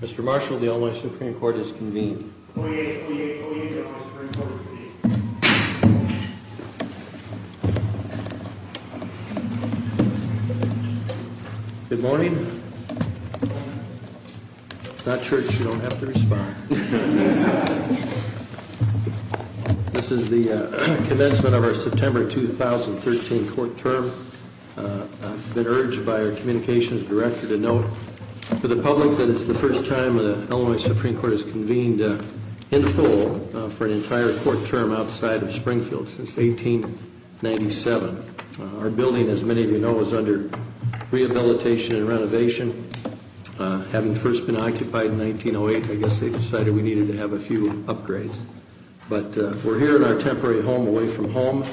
Mr. Marshall, the Illinois Supreme Court is convened. Good morning. It's not church, you don't have to respond. This is the commencement of our September 2013 court term. I've been urged by our communications director to note for the public that it's the first time the Illinois Supreme Court has convened in full for an entire court term outside of Springfield since 1897. Our building, as many of you know, is under rehabilitation and renovation. Having first been occupied in 1908, I guess they decided we needed to have a few upgrades. But we're here in our temporary home away from home.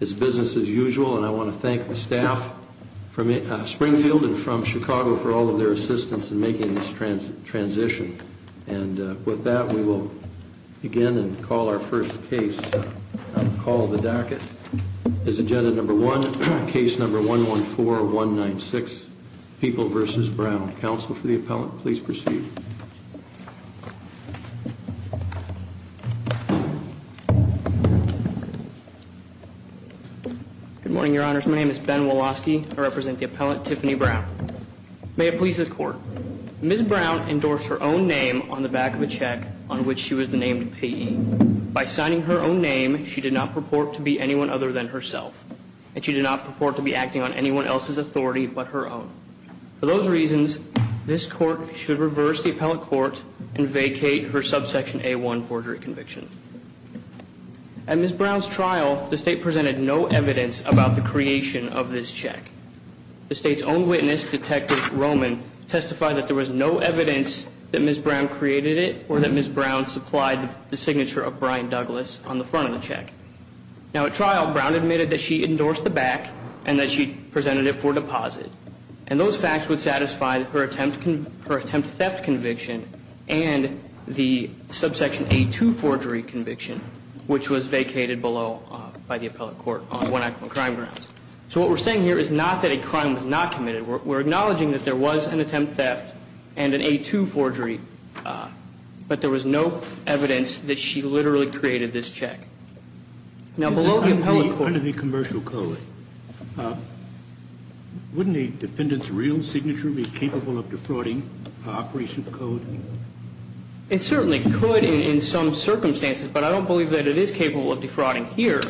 It's business as usual, and I want to thank the staff from Springfield and from Chicago for all of their assistance in making this transition. And with that, we will begin and call our first case. Call of the docket is agenda number one, case number 114196, People v. Brown. Counsel for the appellant, please proceed. Good morning, Your Honors. My name is Ben Woloski. I represent the appellant, Tiffany Brown. May it please the court. Ms. Brown endorsed her own name on the back of a check on which she was named PE. By signing her own name, she did not purport to be anyone other than herself. And she did not purport to be acting on anyone else's authority but her own. For those reasons, this court should reverse the appellate court and vacate her subsection A1 forgery conviction. At Ms. Brown's trial, the state presented no evidence about the creation of this check. The state's own witness, Detective Roman, testified that there was no evidence that Ms. Brown created it or that Ms. Brown supplied the signature of Brian Douglas on the front of the check. Now, at trial, Brown admitted that she endorsed the back and that she presented it for deposit. And those facts would satisfy her attempt theft conviction and the subsection A2 forgery conviction, which was vacated below by the appellate court on one-act crime grounds. So what we're saying here is not that a crime was not committed. We're acknowledging that there was an attempt theft and an A2 forgery, but there was no evidence that she literally created this check. Now, below the appellate court... This is under the commercial code. Wouldn't a defendant's real signature be capable of defrauding operation code? It certainly could in some circumstances, but I don't believe that it is capable of defrauding here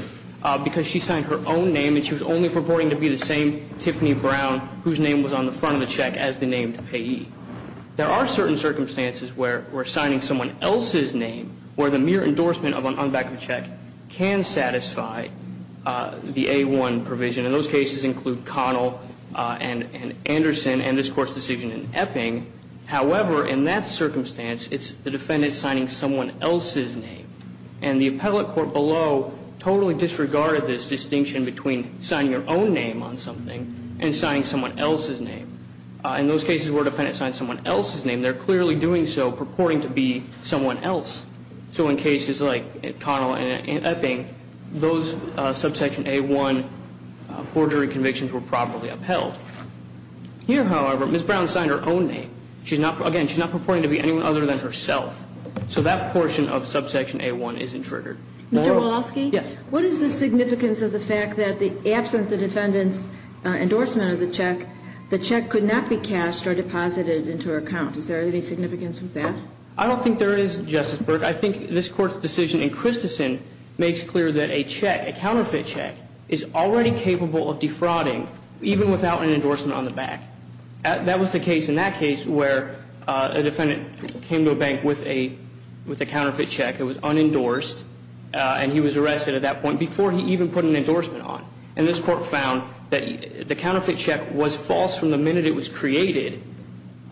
because she signed her own name and she was only purporting to be the same Tiffany Brown whose name was on the front of the check as the name to payee. There are certain circumstances where we're signing someone else's name where the mere endorsement on the back of the check can satisfy the A1 provision. And those cases include Connell and Anderson and this Court's decision in Epping. However, in that circumstance, it's the defendant signing someone else's name. And the appellate court below totally disregarded this distinction between signing your own name on something and signing someone else's name. In those cases where a defendant signs someone else's name, they're clearly doing so purporting to be someone else. So in cases like Connell and Epping, those subsection A1 forgery convictions were properly upheld. Here, however, Ms. Brown signed her own name. Again, she's not purporting to be anyone other than herself. So that portion of subsection A1 isn't triggered. Mr. Woloski? Yes. What is the significance of the fact that absent the defendant's endorsement of the check, the check could not be cashed or deposited into her account? Is there any significance of that? I don't think there is, Justice Burke. I think this Court's decision in Christensen makes clear that a check, a counterfeit check, is already capable of defrauding even without an endorsement on the back. That was the case in that case where a defendant came to a bank with a counterfeit check that was unendorsed and he was arrested at that point before he even put an endorsement on. And this Court found that the counterfeit check was false from the minute it was created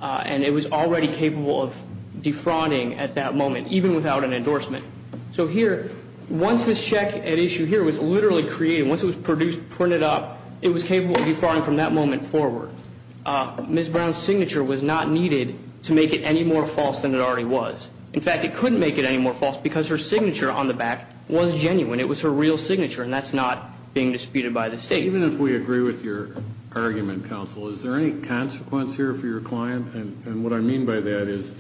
and it was already capable of defrauding at that moment, even without an endorsement. So here, once this check at issue here was literally created, once it was produced, printed up, it was capable of defrauding from that moment forward. Ms. Brown's signature was not needed to make it any more false than it already was. In fact, it couldn't make it any more false because her signature on the back was genuine. It was her real signature, and that's not being disputed by the State. Even if we agree with your argument, counsel, is there any consequence here for your client? And what I mean by that is,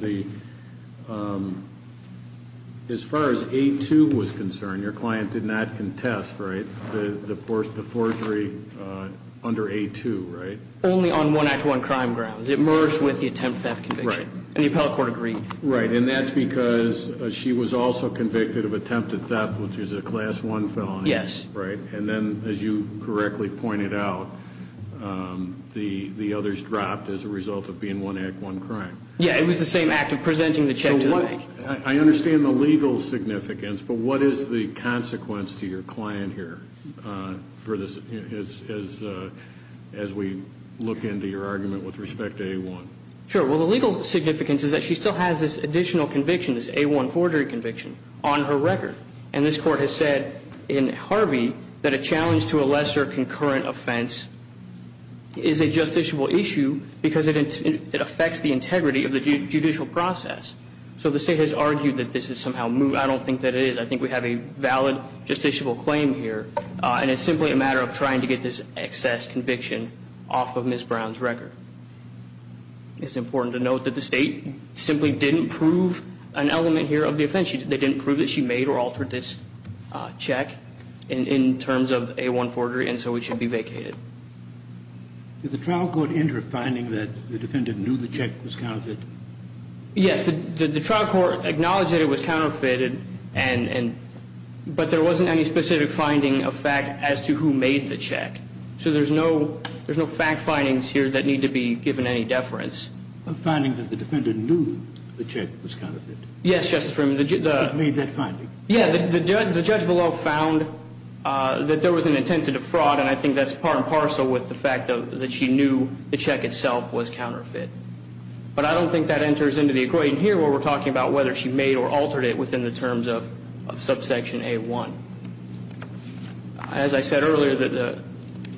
as far as A2 was concerned, your client did not contest, right, the forgery under A2, right? Only on one Act I crime grounds. It merged with the attempted theft conviction. Right. And the appellate court agreed. Right. And that's because she was also convicted of attempted theft, which is a Class I felony. Yes. Right. And then, as you correctly pointed out, the others dropped as a result of being one Act, one crime. Yeah. It was the same Act of presenting the check to the bank. I understand the legal significance, but what is the consequence to your client here as we look into your argument with respect to A1? Sure. Well, the legal significance is that she still has this additional conviction, this A1 forgery conviction, on her record. And this court has said in Harvey that a challenge to a lesser concurrent offense is a justiciable issue because it affects the integrity of the judicial process. So the state has argued that this is somehow moot. I don't think that it is. I think we have a valid justiciable claim here, and it's simply a matter of trying to get this excess conviction off of Ms. Brown's record. It's important to note that the state simply didn't prove an element here of the offense. They didn't prove that she made or altered this check in terms of A1 forgery, and so it should be vacated. Did the trial court enter a finding that the defendant knew the check was counterfeited? Yes. The trial court acknowledged that it was counterfeited, but there wasn't any specific finding of fact as to who made the check. So there's no fact findings here that need to be given any deference. A finding that the defendant knew the check was counterfeited? Yes, Justice Freeman. The judge below found that there was an intent to defraud, and I think that's part and parcel with the fact that she knew the check itself was counterfeit. But I don't think that enters into the equation here where we're talking about whether she made or altered it within the terms of subsection A1. As I said earlier, the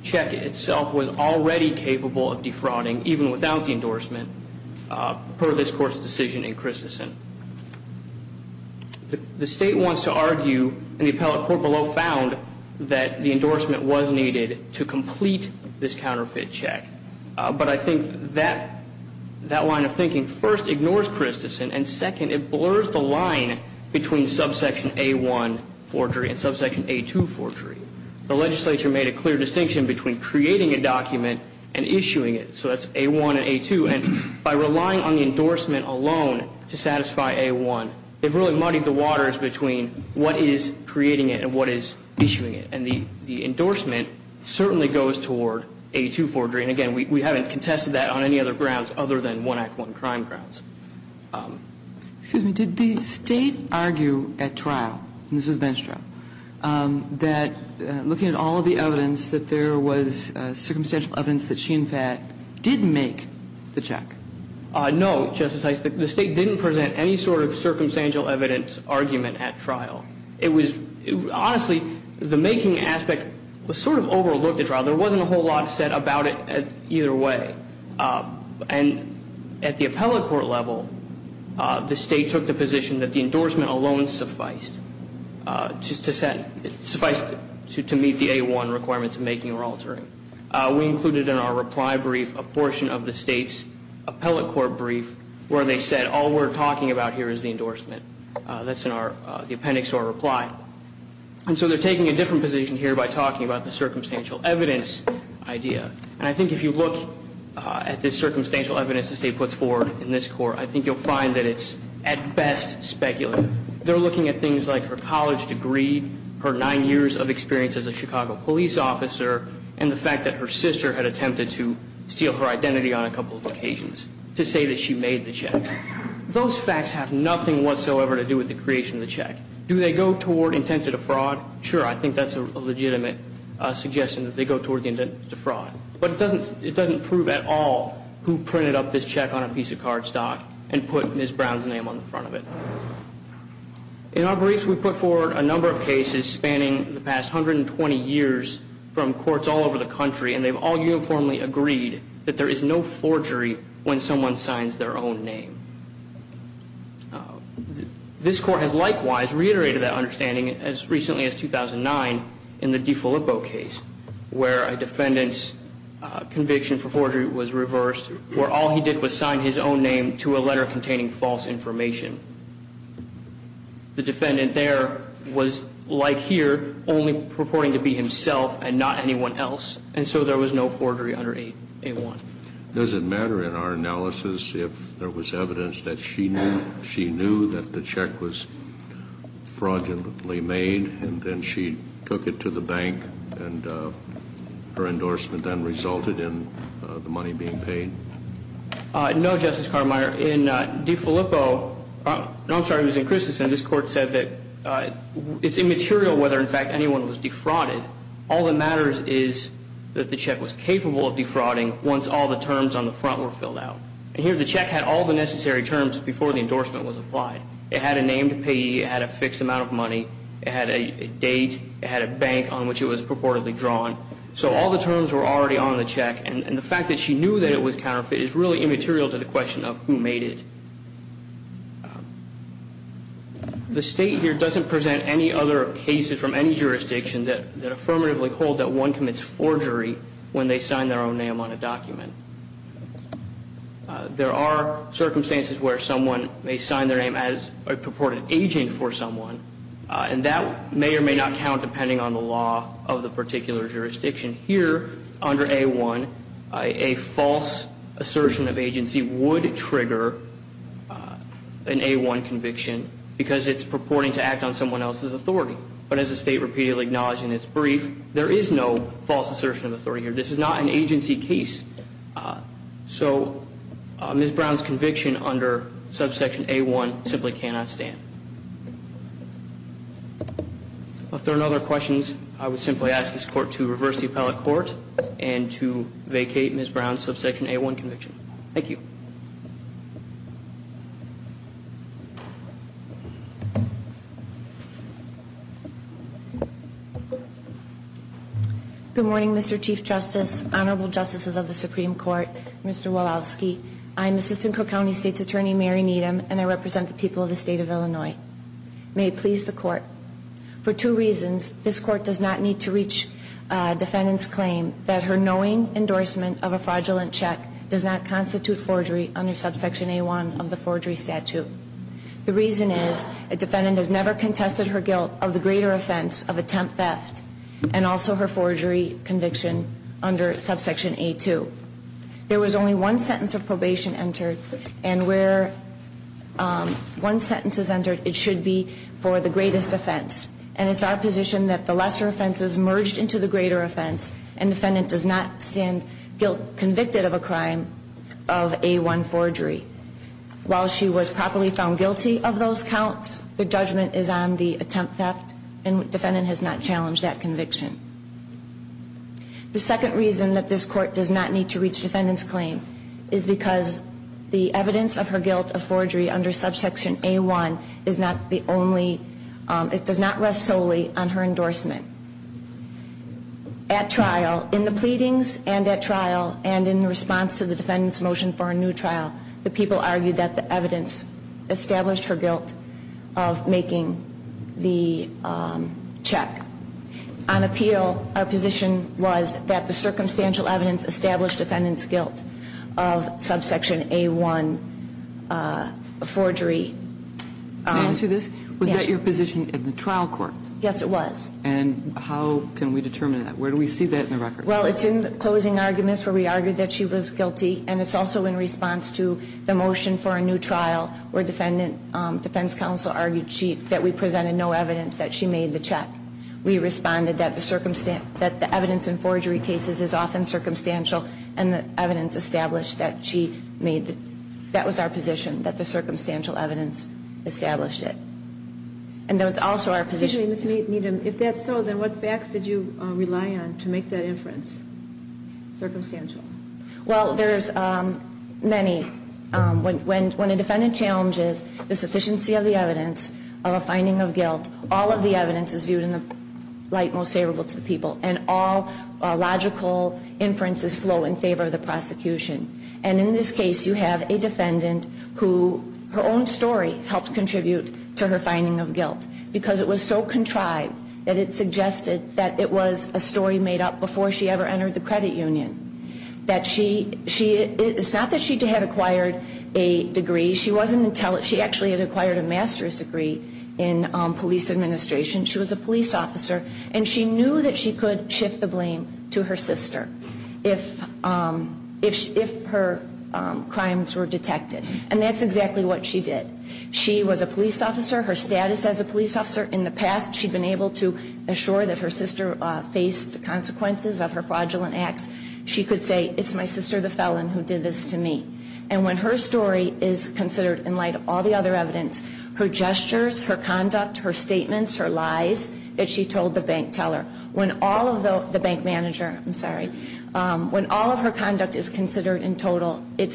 check itself was already capable of defrauding, even without the endorsement, per this Court's decision in Christensen. The State wants to argue, and the appellate court below found, that the endorsement was needed to complete this counterfeit check. But I think that line of thinking first ignores Christensen, and second, it blurs the line between subsection A1 forgery and subsection A2 forgery. The legislature made a clear distinction between creating a document and issuing it. So that's A1 and A2. And by relying on the endorsement alone to satisfy A1, they've really muddied the waters between what is creating it and what is issuing it. And the endorsement certainly goes toward A2 forgery. And again, we haven't contested that on any other grounds other than one Act I crime grounds. Excuse me. Did the State argue at trial, and this was Ben's trial, that looking at all of the evidence, that there was circumstantial evidence that she, in fact, did make the check? No, Justice Eisenberg. The State didn't present any sort of circumstantial evidence argument at trial. It was honestly, the making aspect was sort of overlooked at trial. There wasn't a whole lot said about it either way. And at the appellate court level, the State took the position that the endorsement alone sufficed to meet the A1 requirements of making or altering. We included in our reply brief a portion of the State's appellate court brief where they said all we're talking about here is the endorsement. That's in the appendix to our reply. And so they're taking a different position here by talking about the circumstantial evidence idea. And I think if you look at this circumstantial evidence the State puts forward in this court, I think you'll find that it's at best speculative. They're looking at things like her college degree, her nine years of experience as a Chicago police officer, and the fact that her sister had attempted to steal her identity on a couple of occasions to say that she made the check. Those facts have nothing whatsoever to do with the creation of the check. Do they go toward intent to defraud? Sure, I think that's a legitimate suggestion that they go toward the intent to defraud. But it doesn't prove at all who printed up this check on a piece of card stock and put Ms. Brown's name on the front of it. In our briefs we put forward a number of cases spanning the past 120 years from courts all over the country, and they've all uniformly agreed that there is no forgery when someone signs their own name. This court has likewise reiterated that understanding as recently as 2009 in the DiFilippo case, where a defendant's conviction for forgery was reversed, where all he did was sign his own name to a letter containing false information. The defendant there was, like here, only purporting to be himself and not anyone else, and so there was no forgery under 8A1. Does it matter in our analysis if there was evidence that she knew that the check was fraudulently made and then she took it to the bank and her endorsement then resulted in the money being paid? No, Justice Cartermire. In DiFilippo – no, I'm sorry, it was in Christensen. This court said that it's immaterial whether, in fact, anyone was defrauded. All that matters is that the check was capable of defrauding once all the terms on the front were filled out. And here the check had all the necessary terms before the endorsement was applied. It had a name to pay, it had a fixed amount of money, it had a date, it had a bank on which it was purportedly drawn. So all the terms were already on the check, and the fact that she knew that it was counterfeit is really immaterial to the question of who made it. The State here doesn't present any other cases from any jurisdiction that affirmatively hold that one commits forgery when they sign their own name on a document. There are circumstances where someone may sign their name as a purported agent for someone, and that may or may not count depending on the law of the particular jurisdiction. Here, under A-1, a false assertion of agency would trigger an A-1 conviction because it's purporting to act on someone else's authority. But as the State repeatedly acknowledged in its brief, there is no false assertion of authority here. This is not an agency case. So Ms. Brown's conviction under subsection A-1 simply cannot stand. If there are no other questions, I would simply ask this Court to reverse the appellate court and to vacate Ms. Brown's subsection A-1 conviction. Thank you. Good morning, Mr. Chief Justice, Honorable Justices of the Supreme Court, Mr. Walowski. I'm Assistant Cook County State's Attorney Mary Needham, and I represent the people of the State of Illinois. May it please the Court, for two reasons. This Court does not need to reach defendant's claim that her knowing endorsement of a fraudulent check does not constitute forgery under subsection A-1 of the forgery statute. The reason is a defendant has never contested her guilt of the greater offense of attempt theft and also her forgery conviction under subsection A-2. There was only one sentence of probation entered, and where one sentence is entered, it should be for the greatest offense. And it's our position that the lesser offense is merged into the greater offense and defendant does not stand convicted of a crime of A-1 forgery. While she was properly found guilty of those counts, the judgment is on the attempt theft and defendant has not challenged that conviction. The second reason that this Court does not need to reach defendant's claim is because the evidence of her guilt of forgery under subsection A-1 is not the only, it does not rest solely on her endorsement. At trial, in the pleadings and at trial, and in response to the defendant's motion for a new trial, the people argued that the evidence established her guilt of making the check on appeal, our position was that the circumstantial evidence established defendant's guilt of subsection A-1 forgery. Can I answer this? Yes. Was that your position at the trial court? Yes, it was. And how can we determine that? Where do we see that in the record? Well, it's in the closing arguments where we argued that she was guilty, and it's also in response to the motion for a new trial where defense counsel argued that we presented no evidence that she made the check. We responded that the evidence in forgery cases is often circumstantial and the evidence established that she made, that was our position, that the circumstantial evidence established it. And that was also our position. Excuse me, Ms. Needham. If that's so, then what facts did you rely on to make that inference, circumstantial? Well, there's many. When a defendant challenges the sufficiency of the evidence of a finding of guilt, all of the evidence is viewed in the light most favorable to the people, and all logical inferences flow in favor of the prosecution. And in this case, you have a defendant who her own story helped contribute to her finding of guilt because it was so contrived that it suggested that it was a story made up before she ever entered the credit union. It's not that she had acquired a degree. She actually had acquired a master's degree in police administration. She was a police officer, and she knew that she could shift the blame to her sister if her crimes were detected, and that's exactly what she did. She was a police officer. Her status as a police officer in the past, she'd been able to assure that her sister faced the consequences of her fraudulent acts. She could say, it's my sister, the felon, who did this to me. And when her story is considered in light of all the other evidence, her gestures, her conduct, her statements, her lies that she told the bank teller, when all of the bank manager, I'm sorry, when all of her conduct is considered in total, it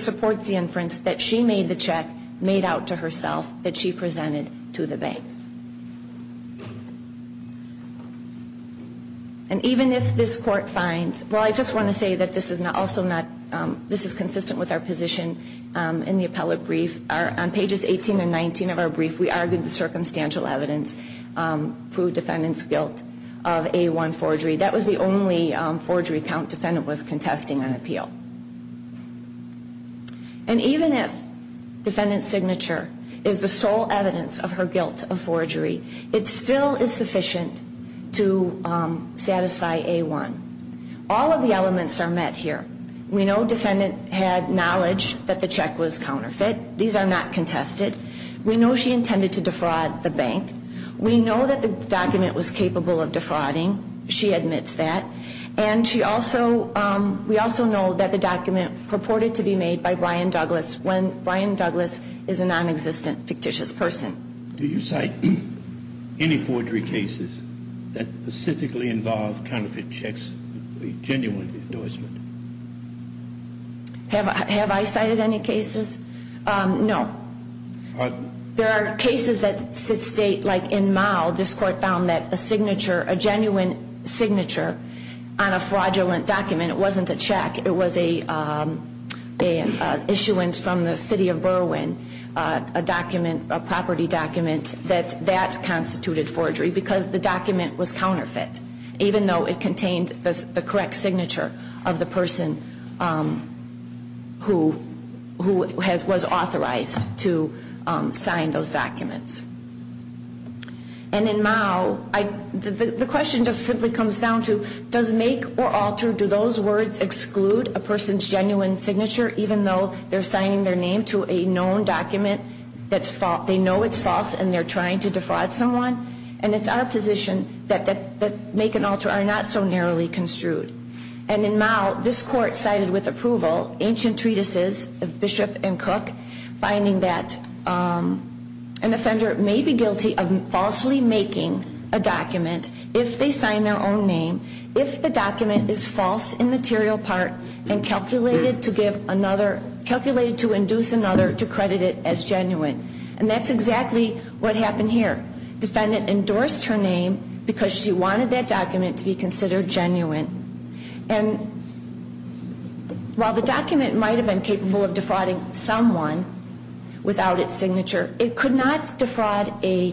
supports the inference that she made the check made out to herself that she presented to the bank. And even if this court finds, well, I just want to say that this is also not, this is consistent with our position in the appellate brief. On pages 18 and 19 of our brief, we argued the circumstantial evidence proved defendant's guilt of A1 forgery. That was the only forgery count defendant was contesting on appeal. And even if defendant's signature is the sole evidence of her guilt of forgery, it still is sufficient to satisfy A1. All of the elements are met here. We know defendant had knowledge that the check was counterfeit. These are not contested. We know she intended to defraud the bank. We know that the document was capable of defrauding. She admits that. And she also, we also know that the document purported to be made by Brian Douglas when Brian Douglas is a non-existent fictitious person. Do you cite any forgery cases that specifically involve counterfeit checks with a genuine endorsement? Have I cited any cases? There are cases that state, like in Mao, this court found that a signature, a genuine signature on a fraudulent document, it wasn't a check, it was an issuance from the city of Berwyn, a document, a property document, that that constituted forgery because the document was counterfeit, even though it contained the correct signature of the person who was authorized to sign those documents. And in Mao, the question just simply comes down to, does make or alter, do those words exclude a person's genuine signature, even though they're signing their name to a known document, they know it's false and they're trying to defraud someone? And it's our position that make and alter are not so narrowly construed. And in Mao, this court cited with approval ancient treatises of Bishop and Cook, finding that an offender may be guilty of falsely making a document if they sign their own name, if the document is false in material part and calculated to induce another to credit it as genuine. And that's exactly what happened here. Defendant endorsed her name because she wanted that document to be considered genuine. And while the document might have been capable of defrauding someone without its signature, it could not defraud a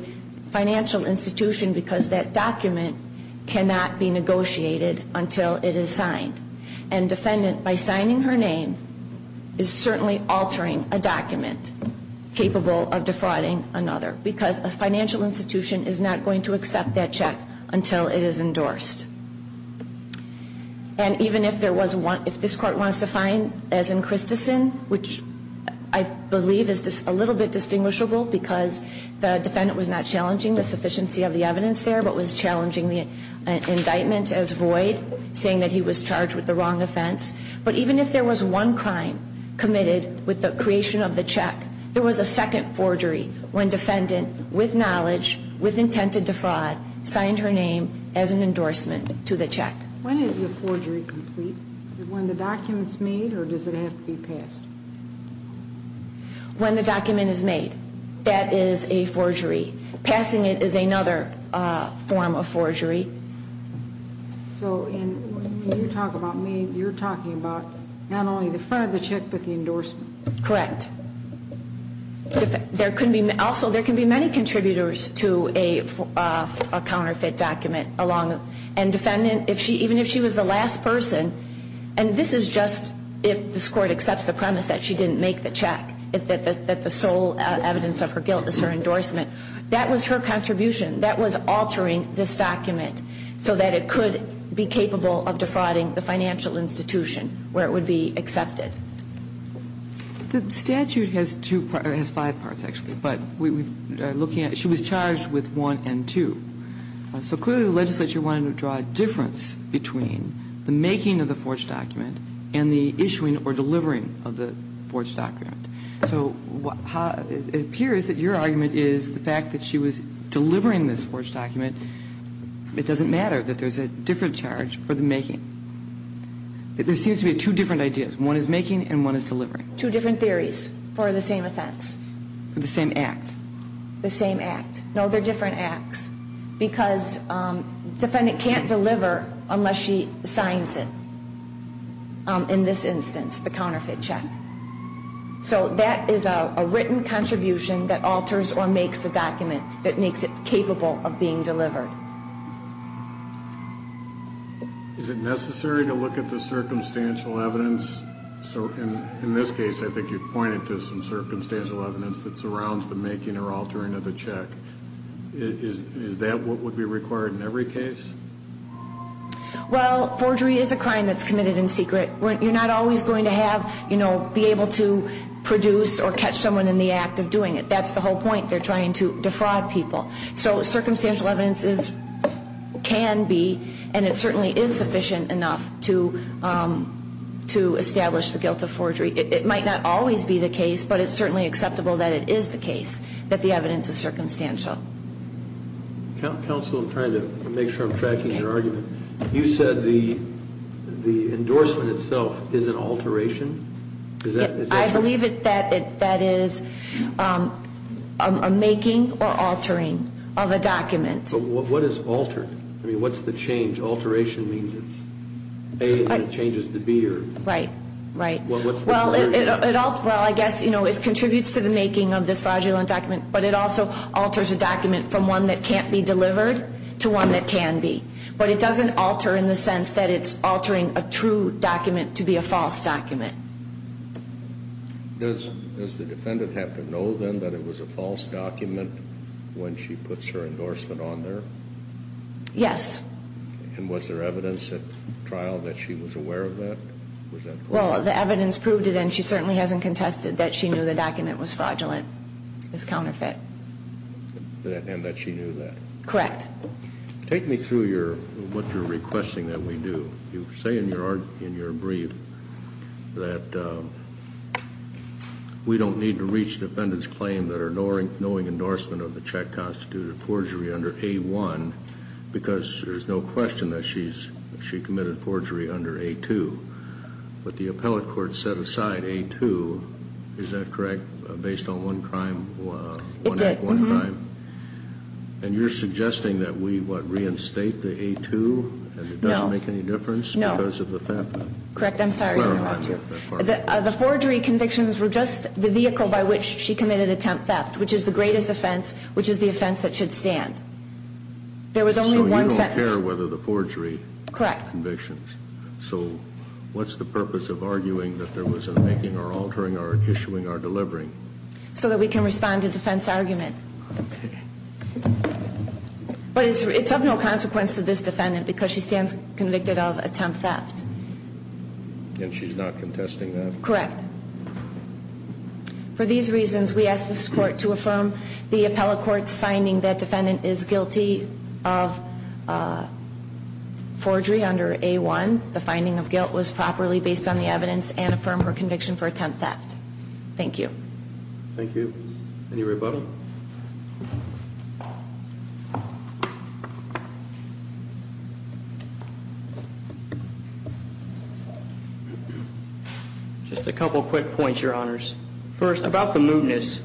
financial institution because that document cannot be negotiated until it is signed. And defendant, by signing her name, is certainly altering a document capable of defrauding another because a financial institution is not going to accept that check until it is endorsed. And even if there was one, if this court wants to find, as in Christensen, which I believe is a little bit distinguishable because the defendant was not challenging the sufficiency of the evidence there, but was challenging the indictment as void, saying that he was charged with the wrong offense. But even if there was one crime committed with the creation of the check, there was a second forgery when defendant, with knowledge, with intent to defraud, signed her name as an endorsement to the check. When is the forgery complete? When the document is made or does it have to be passed? When the document is made, that is a forgery. Passing it is another form of forgery. So when you talk about made, you're talking about not only the front of the check but the endorsement. Correct. Also, there can be many contributors to a counterfeit document. And defendant, even if she was the last person, and this is just if this court accepts the premise that she didn't make the check, that the sole evidence of her guilt is her endorsement. That was her contribution. That was altering this document so that it could be capable of defrauding the financial institution where it would be accepted. The statute has two parts, has five parts, actually. But we are looking at, she was charged with one and two. So clearly the legislature wanted to draw a difference between the making of the forged document and the issuing or delivering of the forged document. So it appears that your argument is the fact that she was delivering this forged document, it doesn't matter that there's a different charge for the making. There seems to be two different ideas. One is making and one is delivering. Two different theories for the same offense. For the same act. The same act. No, they're different acts because defendant can't deliver unless she signs it. In this instance, the counterfeit check. So that is a written contribution that alters or makes the document, that makes it capable of being delivered. Is it necessary to look at the circumstantial evidence? In this case, I think you pointed to some circumstantial evidence that surrounds the making or altering of the check. Is that what would be required in every case? Well, forgery is a crime that's committed in secret. You're not always going to be able to produce or catch someone in the act of doing it. That's the whole point. They're trying to defraud people. So circumstantial evidence can be and it certainly is sufficient enough to establish the guilt of forgery. It might not always be the case, but it's certainly acceptable that it is the case, that the evidence is circumstantial. Counsel, I'm trying to make sure I'm tracking your argument. You said the endorsement itself is an alteration. I believe that that is a making or altering of a document. But what is altered? I mean, what's the change? Alteration means it's A, and then it changes to B. Right, right. Well, what's the alteration? Well, I guess it contributes to the making of this fraudulent document, but it also alters a document from one that can't be delivered to one that can be. But it doesn't alter in the sense that it's altering a true document to be a false document. Does the defendant have to know then that it was a false document when she puts her endorsement on there? Yes. And was there evidence at trial that she was aware of that? Well, the evidence proved it, and she certainly hasn't contested that she knew the document was fraudulent, was counterfeit. And that she knew that. Correct. Take me through what you're requesting that we do. You say in your brief that we don't need to reach the defendant's claim that her knowing endorsement of the check constituted forgery under A-1 because there's no question that she committed forgery under A-2. But the appellate court set aside A-2. Is that correct, based on one crime? It did. And you're suggesting that we, what, reinstate the A-2 and it doesn't make any difference because of the theft? Correct. I'm sorry to interrupt you. The forgery convictions were just the vehicle by which she committed attempt theft, which is the greatest offense, which is the offense that should stand. There was only one sentence. So you don't care whether the forgery convictions. Correct. So what's the purpose of arguing that there was a making or altering or issuing or delivering? So that we can respond to defense argument. But it's of no consequence to this defendant because she stands convicted of attempt theft. And she's not contesting that? Correct. For these reasons, we ask this court to affirm the appellate court's finding that defendant is guilty of forgery under A-1. The finding of guilt was properly based on the evidence and affirm her conviction for attempt theft. Thank you. Thank you. Any rebuttal? Just a couple quick points, Your Honors. First, about the mootness,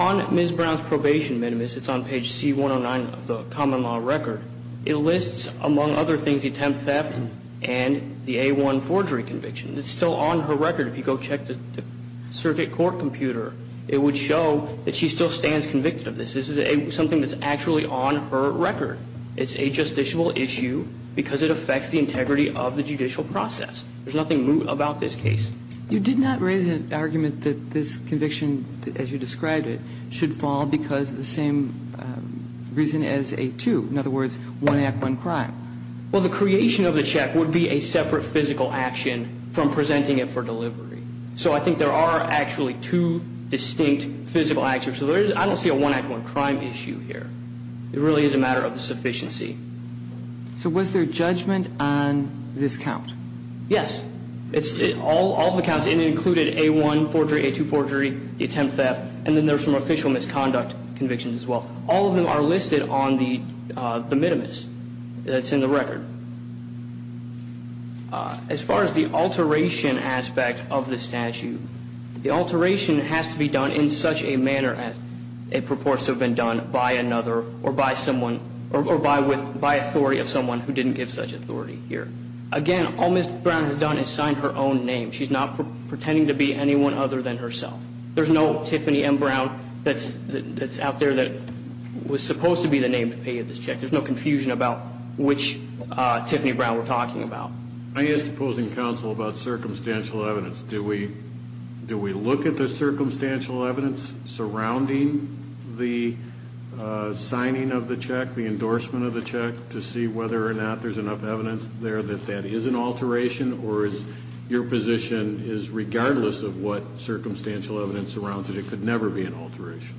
on Ms. Brown's probation minimus, it's on page C-109 of the common law record, it lists, among other things, the attempt theft and the A-1 forgery conviction. It's still on her record. If you go check the circuit court computer, it would show that she still stands convicted of this. This is something that's actually on her record. It's a justiciable issue because it affects the integrity of the judicial process. There's nothing moot about this case. You did not raise an argument that this conviction, as you described it, should fall because of the same reason as A-2. In other words, one act, one crime. Well, the creation of the check would be a separate physical action from presenting it for delivery. So I think there are actually two distinct physical actions. I don't see a one act, one crime issue here. It really is a matter of the sufficiency. So was there judgment on this count? Yes. All of the counts included A-1 forgery, A-2 forgery, the attempt theft, and then there's some official misconduct convictions as well. All of them are listed on the minimus that's in the record. As far as the alteration aspect of the statute, the alteration has to be done in such a manner as it purports to have been done by another or by authority of someone who didn't give such authority here. Again, all Ms. Brown has done is signed her own name. She's not pretending to be anyone other than herself. There's no Tiffany M. Brown that's out there that was supposed to be the name to pay you this check. There's no confusion about which Tiffany Brown we're talking about. I asked opposing counsel about circumstantial evidence. Do we look at the circumstantial evidence surrounding the signing of the check, the endorsement of the check, to see whether or not there's enough evidence there that that is an alteration or is your position is regardless of what circumstantial evidence surrounds it, it could never be an alteration?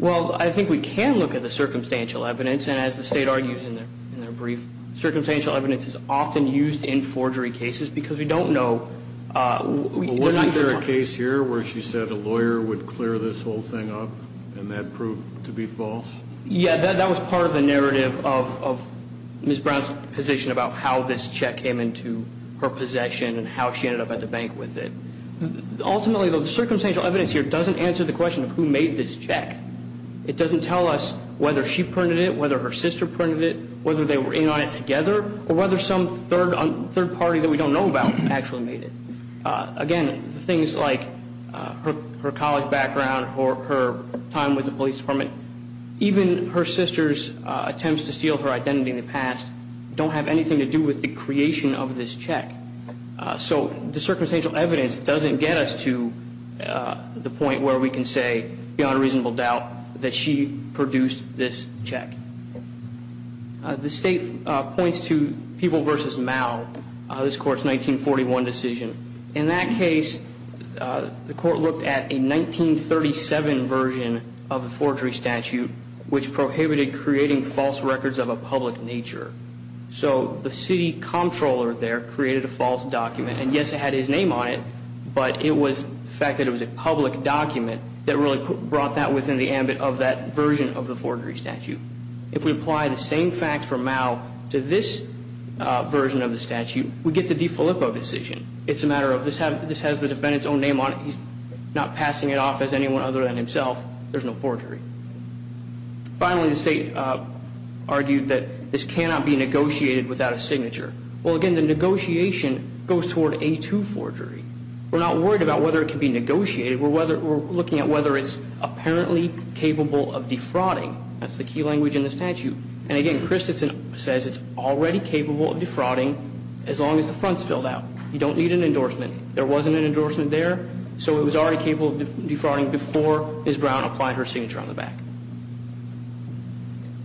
Well, I think we can look at the circumstantial evidence, and as the state argues in their brief, circumstantial evidence is often used in forgery cases because we don't know. Wasn't there a case here where she said a lawyer would clear this whole thing up and that proved to be false? Yeah, that was part of the narrative of Ms. Brown's position about how this check came into her possession and how she ended up at the bank with it. Ultimately, though, the circumstantial evidence here doesn't answer the question of who made this check. It doesn't tell us whether she printed it, whether her sister printed it, whether they were in on it together, or whether some third party that we don't know about actually made it. Again, things like her college background or her time with the police department, even her sister's attempts to steal her identity in the past don't have anything to do with the creation of this check. So the circumstantial evidence doesn't get us to the point where we can say beyond reasonable doubt that she produced this check. The State points to People v. Mao, this Court's 1941 decision. In that case, the Court looked at a 1937 version of the forgery statute, which prohibited creating false records of a public nature. So the city comptroller there created a false document, and yes, it had his name on it, but it was the fact that it was a public document that really brought that within the ambit of that version of the forgery statute. If we apply the same facts from Mao to this version of the statute, we get the DiFilippo decision. It's a matter of this has the defendant's own name on it. He's not passing it off as anyone other than himself. There's no forgery. Finally, the State argued that this cannot be negotiated without a signature. Well, again, the negotiation goes toward A2 forgery. We're not worried about whether it can be negotiated. We're looking at whether it's apparently capable of defrauding. That's the key language in the statute. And again, Christensen says it's already capable of defrauding as long as the front's filled out. You don't need an endorsement. There wasn't an endorsement there, so it was already capable of defrauding before Ms. Brown applied her signature on the back.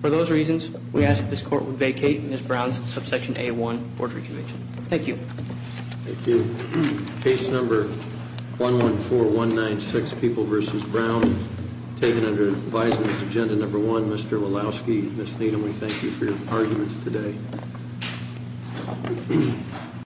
For those reasons, we ask that this Court would vacate Ms. Brown's subsection A1 forgery conviction. Thank you. Thank you. Case number 114196, People v. Brown, taken under advisement agenda number one. Mr. Walowski, Ms. Needham, we thank you for your arguments today.